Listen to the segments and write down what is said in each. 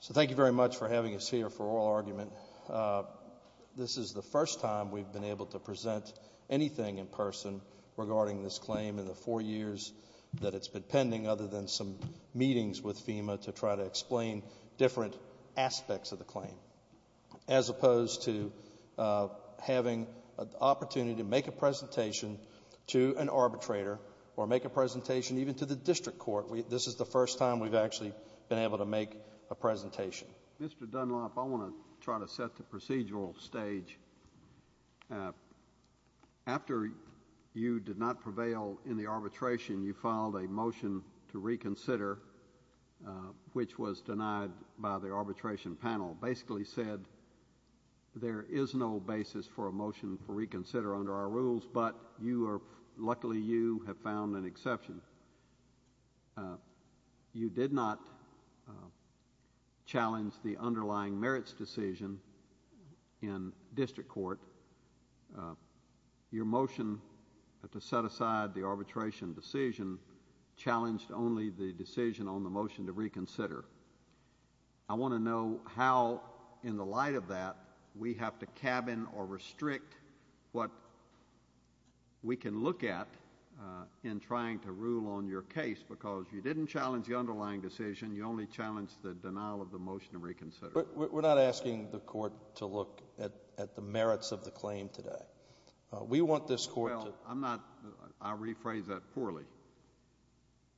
So thank you very much for having us here for oral argument. This is the first time we've been able to present anything in person regarding this claim in the four years that it's been pending other than some meetings with FEMA to try to explain different aspects of the claim. As opposed to having an opportunity to make a presentation to an arbitrator or make a presentation even to the district attorney. This is the first time we've actually been able to make a presentation. Mr. Dunlop, I want to try to set the procedural stage. After you did not prevail in the arbitration, you filed a motion to reconsider, which was denied by the arbitration panel. The arbitration panel basically said there is no basis for a motion to reconsider under our rules, but luckily you have found an exception. You did not challenge the underlying merits decision in district court. Your motion to set aside the arbitration decision challenged only the decision on the motion to reconsider. I want to know how, in the light of that, we have to cabin or restrict what we can look at in trying to rule on your case because you didn't challenge the underlying decision, you only challenged the denial of the motion to reconsider. We're not asking the court to look at the merits of the claim today. We want this court to I rephrase that poorly.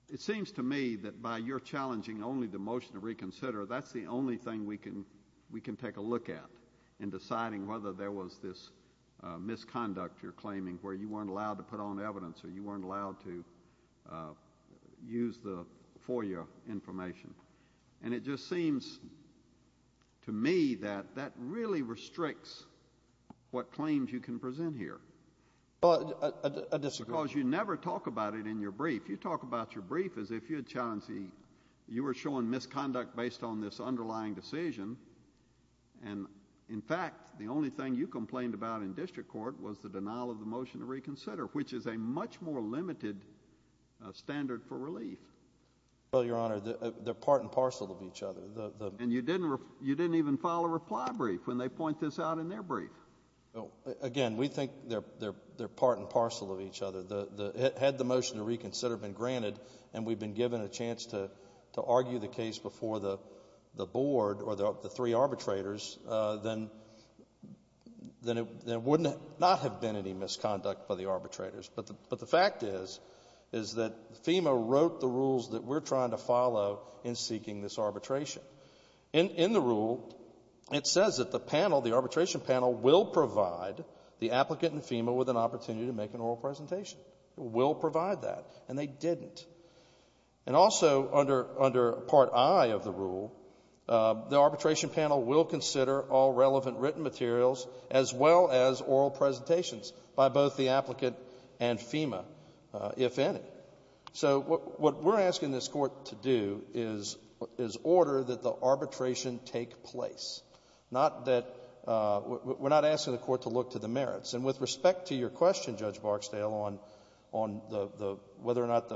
It seems to me that by your challenging only the motion to reconsider, that's the only thing we can take a look at in deciding whether there was this misconduct you're claiming where you weren't allowed to put on evidence or you weren't allowed to use the FOIA information. It just seems to me that that really restricts what claims you can present here. I disagree. Because you never talk about it in your brief. You talk about your brief as if you were showing misconduct based on this underlying decision. In fact, the only thing you complained about in district court was the denial of the motion to reconsider, which is a much more limited standard for relief. Well, Your Honor, they're part and parcel of each other. And you didn't even file a reply brief when they point this out in their brief. Again, we think they're part and parcel of each other. Had the motion to reconsider been granted and we've been given a chance to argue the case before the board or the three arbitrators, then there would not have been any misconduct by the arbitrators. But the fact is, is that FEMA wrote the rules that we're trying to follow in seeking this arbitration. In the rule, it says that the panel, the arbitration panel, will provide the applicant and FEMA with an opportunity to make an oral presentation. It will provide that. And they didn't. And also under Part I of the rule, the arbitration panel will consider all relevant written materials as well as oral presentations by both the applicant and FEMA, if any. So what we're asking this Court to do is order that the arbitration take place, not that we're not asking the Court to look to the merits. And with respect to your question, Judge Barksdale, on whether or not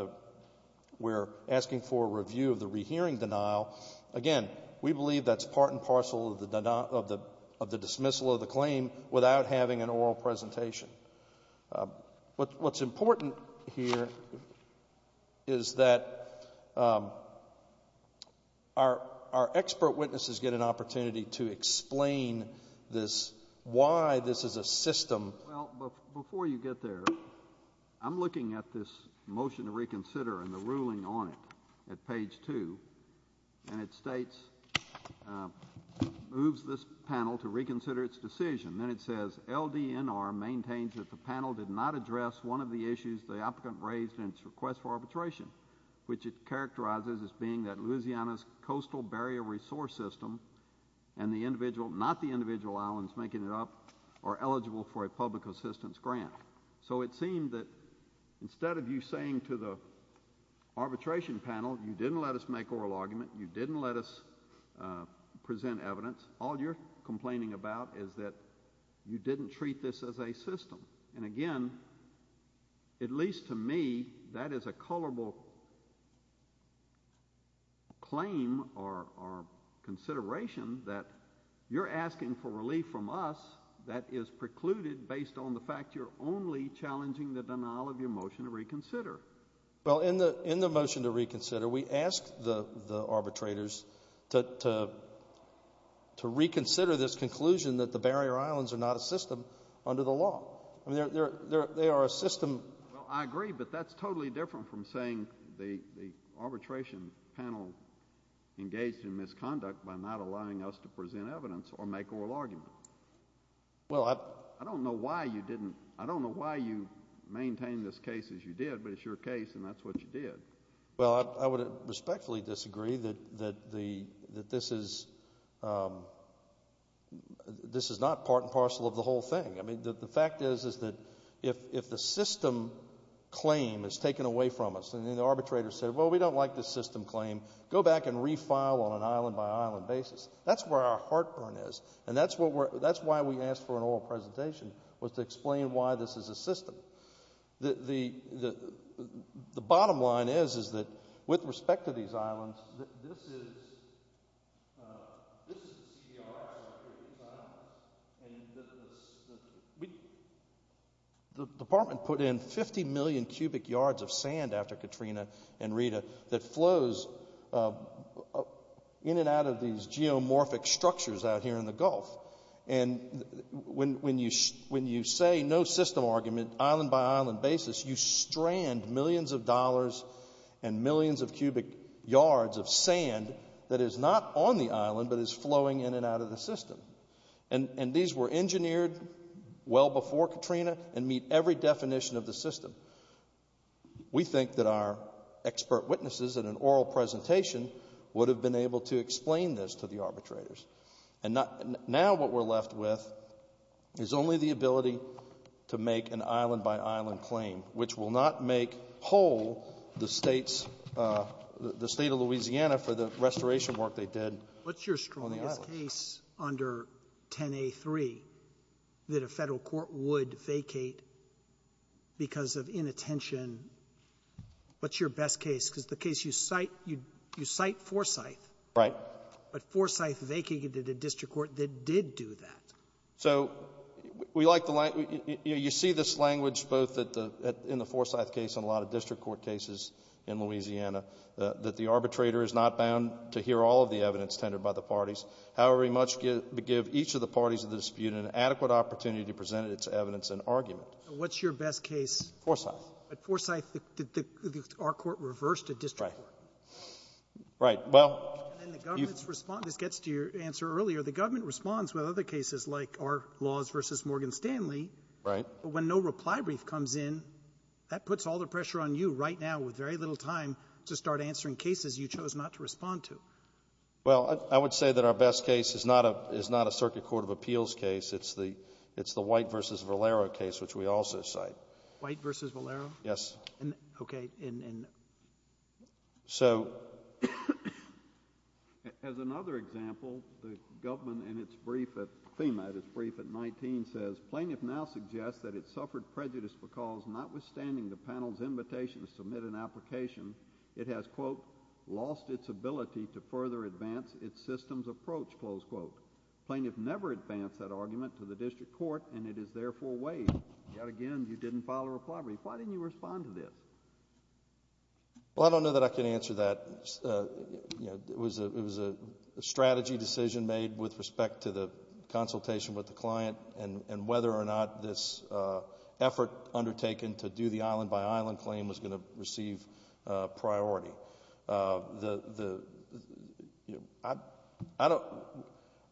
we're asking for a review of the rehearing denial, again, we believe that's part and parcel of the dismissal of the claim without having an oral presentation. What's important here is that our expert witnesses get an opportunity to explain this, why this is a system. Well, before you get there, I'm looking at this motion to reconsider and the ruling on it at page 2. And it states, moves this panel to reconsider its decision. Then it says, LDNR maintains that the panel did not address one of the issues the applicant raised in its request for arbitration, which it characterizes as being that Louisiana's coastal barrier resource system and the individual, not the individual islands making it up, are eligible for a public assistance grant. So it seemed that instead of you saying to the arbitration panel, you didn't let us make oral argument, you didn't let us present evidence, all you're complaining about is that you didn't treat this as a system. And again, at least to me, that is a colorable claim or consideration that you're asking for relief from us that is precluded based on the fact you're only challenging the denial of your motion to reconsider. Well, in the motion to reconsider, we asked the arbitrators to reconsider this conclusion that the barrier islands are not a system under the law. I mean, they are a system. Well, I agree, but that's totally different from saying the arbitration panel engaged in misconduct by not allowing us to present evidence or make oral argument. Well, I don't know why you didn't, I don't know why you maintained this case as you did, but it's your case and that's what you did. Well, I would respectfully disagree that this is not part and parcel of the whole thing. I mean, the fact is that if the system claim is taken away from us and the arbitrators say, well, we don't like this system claim, go back and refile on an island-by-island basis. That's where our heartburn is and that's why we asked for an oral presentation was to explain why this is a system. The bottom line is, is that with respect to these islands, this is the CDR structure of these islands. The department put in 50 million cubic yards of sand after Katrina and Rita that flows in and out of these geomorphic structures out here in the Gulf. And when you say no system argument, island-by-island basis, you strand millions of dollars and millions of cubic yards of sand that is not on the island but is flowing in and out of the system. And these were engineered well before Katrina and meet every definition of the system. We think that our expert witnesses in an oral presentation would have been able to explain this to the arbitrators. And now what we're left with is only the ability to make an island-by-island claim, which will not make whole the State's, the State of Louisiana for the restoration work they did on the islands. Sotomayor, what's your strongest case under 10a3 that a Federal court would vacate because of inattention? What's your best case? Because the case you cite, you cite Forsyth. Right. But Forsyth vacated a district court that did do that. So you see this language both in the Forsyth case and a lot of district court cases in Louisiana, that the arbitrator is not bound to hear all of the evidence tended by the parties. However, he must give each of the parties of the dispute an adequate opportunity to present its evidence and argument. What's your best case? Forsyth. But Forsyth, our court reversed a district court. Right. And then the government's response, this gets to your answer earlier, the government responds with other cases like our laws versus Morgan Stanley. Right. But when no reply brief comes in, that puts all the pressure on you right now with very little time to start answering cases you chose not to respond to. Well, I would say that our best case is not a circuit court of appeals case. It's the White v. Valero case, which we also cite. White v. Valero? Yes. Okay. As another example, the government in its brief at FEMA, its brief at 19 says, Plaintiff now suggests that it suffered prejudice because notwithstanding the panel's invitation to submit an application, it has, quote, lost its ability to further advance its systems approach, close quote. Plaintiff never advanced that argument to the district court and it is therefore waived. Yet again, you didn't follow a reply brief. Why didn't you respond to this? Well, I don't know that I can answer that. It was a strategy decision made with respect to the consultation with the client and whether or not this effort undertaken to do the island by island claim was going to receive priority.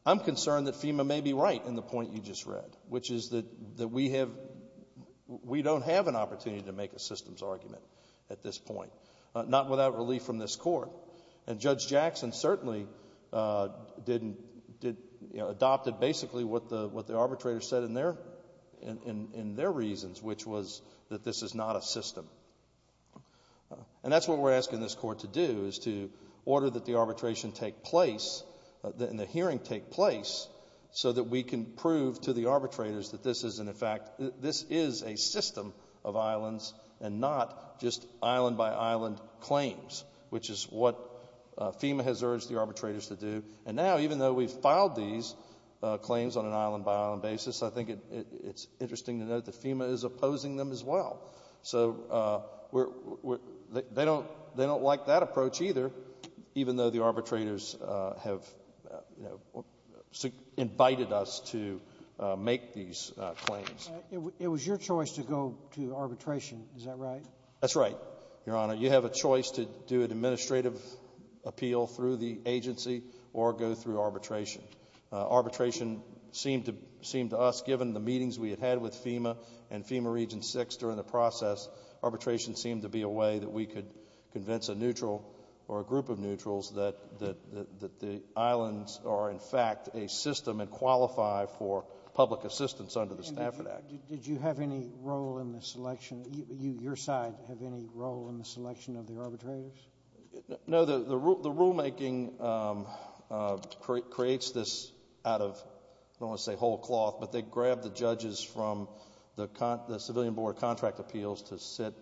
I'm concerned that FEMA may be right in the point you just read, which is that we don't have an opportunity to make a systems argument at this point, not without relief from this court. And Judge Jackson certainly adopted basically what the arbitrator said in their reasons, which was that this is not a system. And that's what we're asking this court to do, is to order that the arbitration take place and the hearing take place so that we can prove to the arbitrators that this is a system of islands and not just island by island claims, which is what FEMA has urged the arbitrators to do. And now, even though we've filed these claims on an island by island basis, I think it's interesting to note that FEMA is opposing them as well. So they don't like that approach either, even though the arbitrators have invited us to make these claims. It was your choice to go to arbitration, is that right? That's right, Your Honor. You have a choice to do an administrative appeal through the agency or go through arbitration. Arbitration seemed to us, given the meetings we had had with FEMA and FEMA Region 6 during the process, arbitration seemed to be a way that we could convince a neutral or a group of neutrals that the islands are, in fact, a system and qualify for public assistance under the Stafford Act. Did you have any role in the selection? Your side have any role in the selection of the arbitrators? No. The rulemaking creates this out of, I don't want to say whole cloth, but they grab the judges from the Civilian Board of Contract Appeals to sit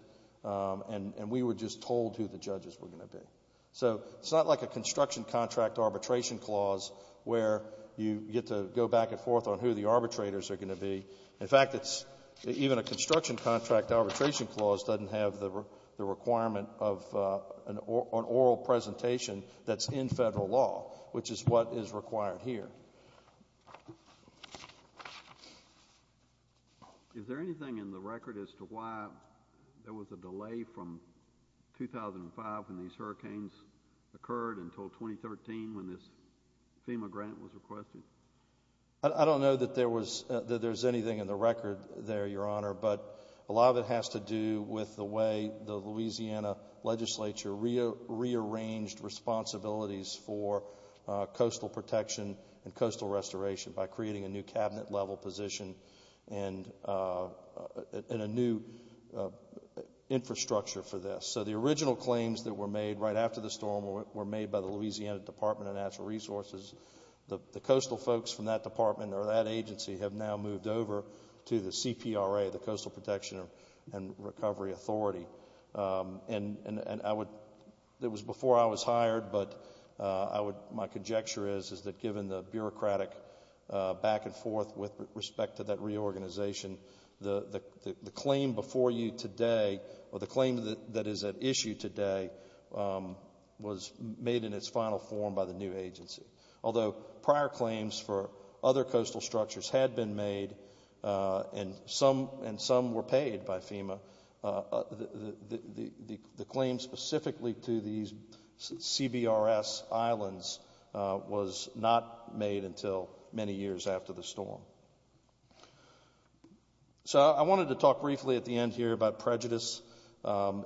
and we were just told who the judges were going to be. So it's not like a construction contract arbitration clause where you get to go back and forth on who the arbitrators are going to be. In fact, even a construction contract arbitration clause doesn't have the requirement of an oral presentation that's in Federal law, which is what is required here. Is there anything in the record as to why there was a delay from 2005 when these hurricanes occurred until 2013 when this FEMA grant was requested? I don't know that there's anything in the record there, Your Honor, but a lot of it has to do with the way the Louisiana Legislature rearranged responsibilities for coastal protection and coastal restoration by creating a new cabinet level position and a new infrastructure for this. So the original claims that were made right after the storm were made by the Louisiana Department of Natural Resources. The coastal folks from that department or that agency have now moved over to the CPRA, the Coastal Protection and Recovery Authority. It was before I was hired, but my conjecture is that given the bureaucratic back and forth with respect to that reorganization, the claim before you today or the claim that is at issue today was made in its final form by the new agency. Although prior claims for other coastal structures had been made and some were paid by FEMA, the claim specifically to these CBRS islands was not made until many years after the storm. So I wanted to talk briefly at the end here about prejudice and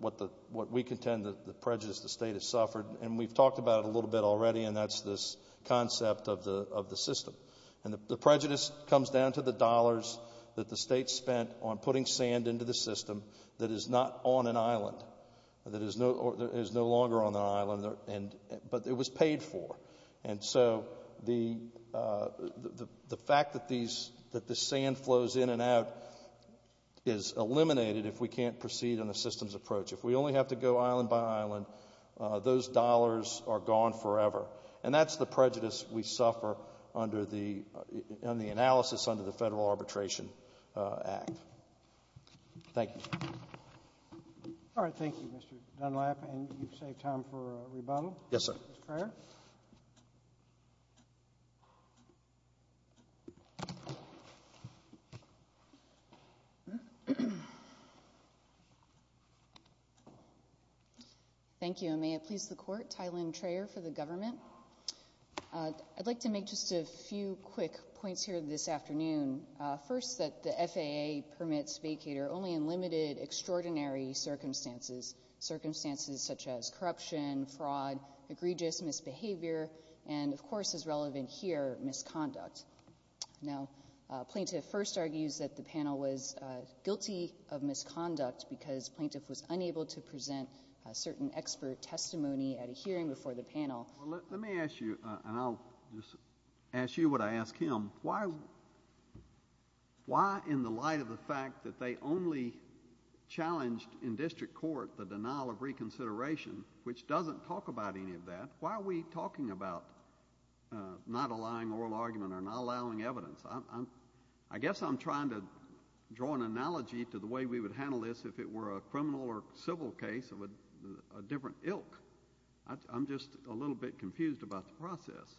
what we contend that the prejudice the state has suffered, and we've talked about it a little bit already, and that's this concept of the system. And the prejudice comes down to the dollars that the state spent on putting sand into the system that is not on an island, that is no longer on an island, but it was paid for. And so the fact that the sand flows in and out is eliminated if we can't proceed on a systems approach. If we only have to go island by island, those dollars are gone forever. And that's the prejudice we suffer under the analysis under the Federal Arbitration Act. Thank you. All right. Thank you, Mr. Dunlap. And you've saved time for a rebuttal. Yes, sir. Ms. Freyer. Thank you. And may it please the court, Tylynn Freyer for the government. I'd like to make just a few quick points here this afternoon. First, that the FAA permits vacator only in limited, extraordinary circumstances, circumstances such as misbehavior and, of course, as relevant here, misconduct. Now, a plaintiff first argues that the panel was guilty of misconduct because plaintiff was unable to present a certain expert testimony at a hearing before the panel. Let me ask you, and I'll just ask you what I ask him. Why in the light of the fact that they only challenged in district court the denial of reconsideration, which doesn't talk about any of that, why are we talking about not allowing oral argument or not allowing evidence? I guess I'm trying to draw an analogy to the way we would handle this if it were a criminal or civil case of a different ilk. I'm just a little bit confused about the process.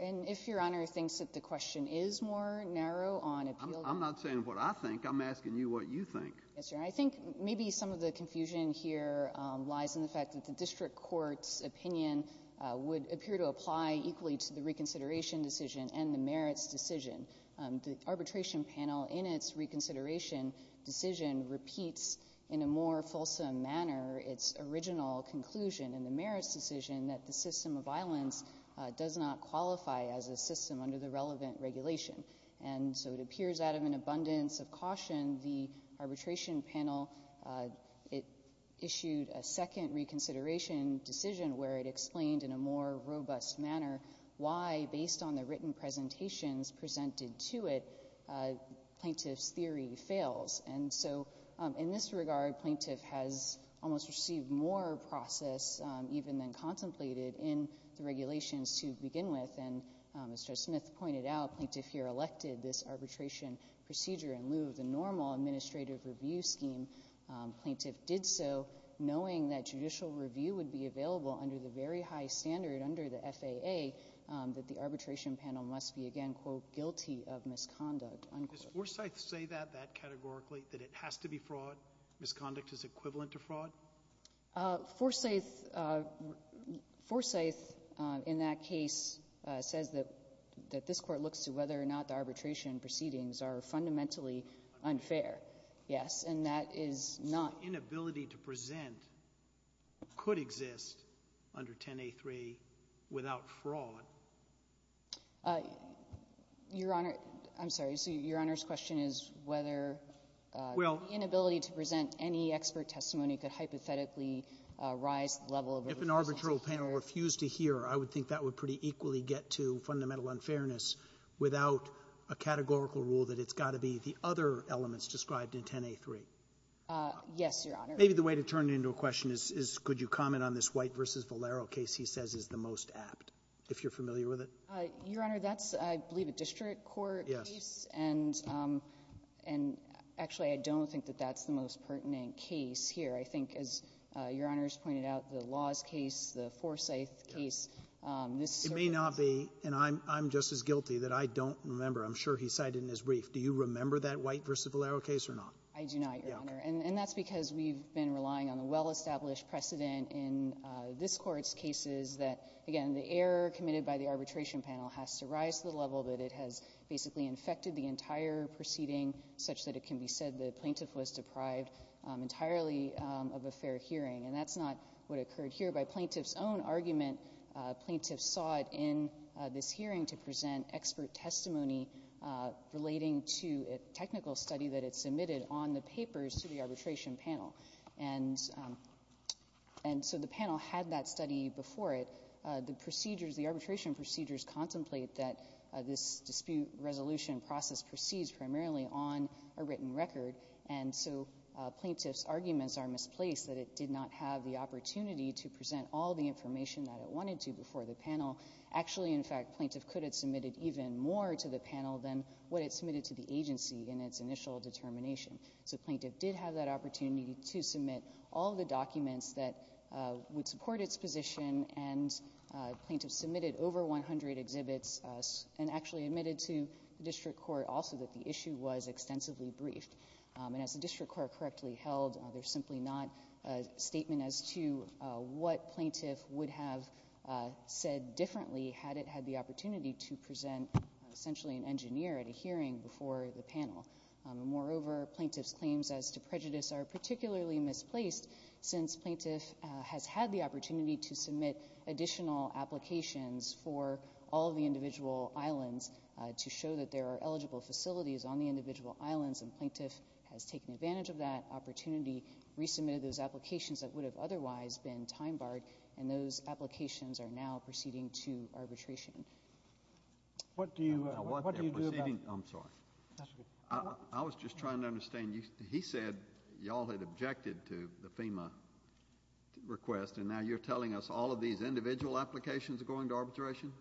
And if Your Honor thinks that the question is more narrow on appeal. I'm not saying what I think. I'm asking you what you think. Yes, Your Honor. I think maybe some of the confusion here lies in the fact that the district court's opinion would appear to apply equally to the reconsideration decision and the merits decision. The arbitration panel in its reconsideration decision repeats in a more fulsome manner its original conclusion in the merits decision that the system of violence does not qualify as a system under the relevant regulation. And so it appears out of an abundance of caution, the arbitration panel issued a second reconsideration decision where it explained in a more robust manner why, based on the written presentations presented to it, plaintiff's theory fails. And so in this regard, plaintiff has almost received more process even than contemplated in the regulations to begin with. And as Judge Smith pointed out, plaintiff here elected this arbitration procedure in lieu of the normal administrative review scheme. Plaintiff did so knowing that judicial review would be available under the very high standard under the FAA that the arbitration panel must be, again, quote, guilty of misconduct, unquote. Does Forsyth say that, that categorically, that it has to be fraud, misconduct is equivalent to fraud? Forsyth, in that case, says that this court looks to whether or not the arbitration proceedings are fundamentally unfair. Yes, and that is not. So the inability to present could exist under 10A3 without fraud? Your Honor, I'm sorry. Your Honor's question is whether the inability to present any expert testimony could hypothetically rise to the level of a refusal to hear. If an arbitral panel refused to hear, I would think that would pretty equally get to fundamental unfairness without a categorical rule that it's got to be the other elements described in 10A3. Yes, Your Honor. Maybe the way to turn it into a question is could you comment on this White v. Valero case he says is the most apt, if you're familiar with it? Your Honor, that's, I believe, a district court case. Yes. And actually, I don't think that that's the most pertinent case here. I think, as Your Honor's pointed out, the Laws case, the Forsyth case. It may not be, and I'm just as guilty that I don't remember. I'm sure he cited it in his brief. Do you remember that White v. Valero case or not? I do not, Your Honor. And that's because we've been relying on the well-established precedent in this court's cases that, again, the error committed by the arbitration panel has to rise to the level that it has basically infected the entire proceeding such that it can be said the plaintiff was deprived entirely of a fair hearing. And that's not what occurred here. By plaintiff's own argument, plaintiffs sought in this hearing to present expert testimony relating to a technical study that it submitted on the papers to the arbitration panel. And so the panel had that study before it. The arbitration procedures contemplate that this dispute resolution process proceeds primarily on a written record. And so plaintiff's arguments are misplaced that it did not have the opportunity to present all the information that it wanted to before the panel. Actually, in fact, plaintiff could have submitted even more to the panel than what it submitted to the agency in its initial determination. So plaintiff did have that opportunity to submit all the documents that would support its position, and plaintiff submitted over 100 exhibits and actually admitted to the district court also that the issue was extensively briefed. And as the district court correctly held, there's simply not a statement as to what plaintiff would have said differently had it had the opportunity to present essentially an engineer at a hearing before the panel. Moreover, plaintiff's claims as to prejudice are particularly misplaced since plaintiff has had the opportunity to submit additional applications for all of the individual islands to show that there are eligible facilities on the individual islands, and plaintiff has taken advantage of that opportunity, resubmitted those applications that would have otherwise been time-barred, and those applications are now proceeding to arbitration. What do you... I'm sorry. I was just trying to understand. He said y'all had objected to the FEMA request, and now you're telling us all of these individual applications are going to arbitration?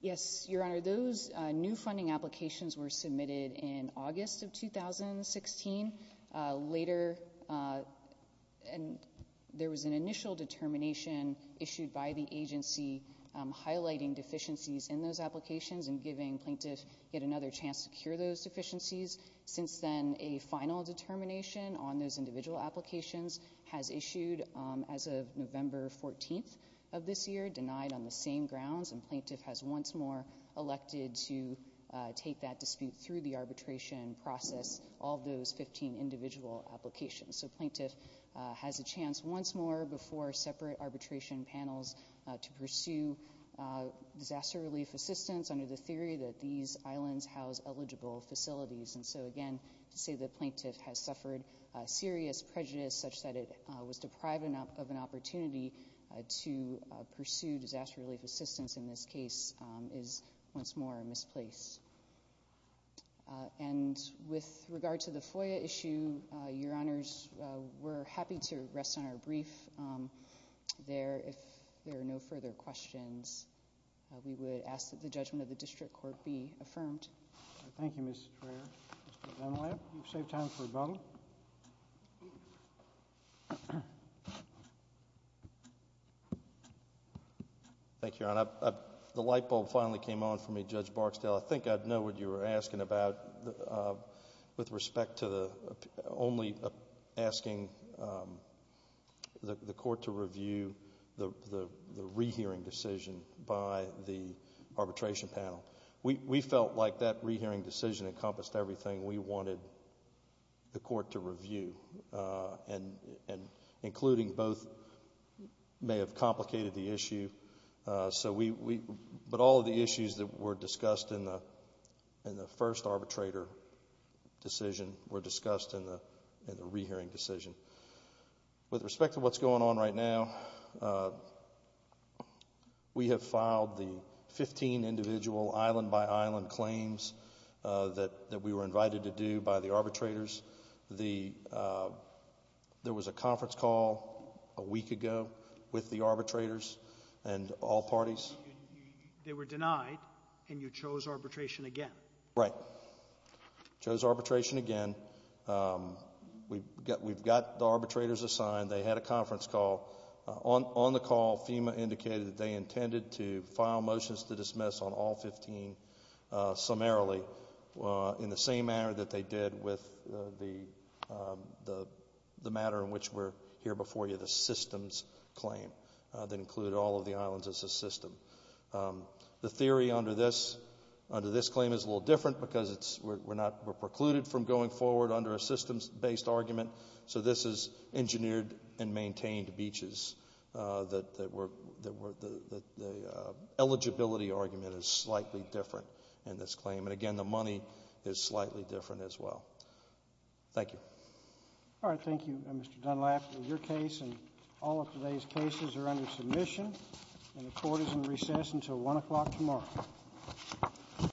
Yes, Your Honor. Those new funding applications were submitted in August of 2016. Later, there was an initial determination issued by the agency highlighting deficiencies in those applications and giving plaintiff yet another chance to cure those deficiencies. Since then, a final determination on those individual applications has issued as of November 14th of this year, denied on the same grounds, and plaintiff has once more elected to take that dispute through the arbitration process, all those 15 individual applications. So plaintiff has a chance once more before separate arbitration panels to pursue disaster relief assistance under the theory that these islands house eligible facilities. And so, again, to say that plaintiff has suffered serious prejudice such that it was deprived of an opportunity to pursue disaster relief assistance in this case is once more a misplace. And with regard to the FOIA issue, Your Honors, we're happy to rest on our brief there. If there are no further questions, we would ask that the judgment of the district court be affirmed. Thank you, Ms. Trehear. Mr. Dunlap, you've saved time for a bubble. Thank you, Your Honor. The light bulb finally came on for me, Judge Barksdale. I think I know what you were asking about with respect to only asking the court to review the rehearing decision by the arbitration panel. We felt like that rehearing decision encompassed everything we wanted the court to review, including both may have complicated the issue, but all of the issues that were discussed in the first arbitrator decision were discussed in the rehearing decision. With respect to what's going on right now, we have filed the 15 individual island-by-island claims that we were invited to do by the arbitrators. There was a conference call a week ago with the arbitrators and all parties. They were denied, and you chose arbitration again. Right. Chose arbitration again. We've got the arbitrators assigned. They had a conference call. On the call, FEMA indicated that they intended to file motions to dismiss on all 15 summarily, in the same manner that they did with the matter in which we're here before you, the systems claim that included all of the islands as a system. The theory under this claim is a little different because we're precluded from going forward under a systems-based argument. So this is engineered and maintained beaches. The eligibility argument is slightly different in this claim. And, again, the money is slightly different as well. Thank you. All right. Thank you, Mr. Dunlap. Your case and all of today's cases are under submission, and the court is in recess until 1 o'clock tomorrow.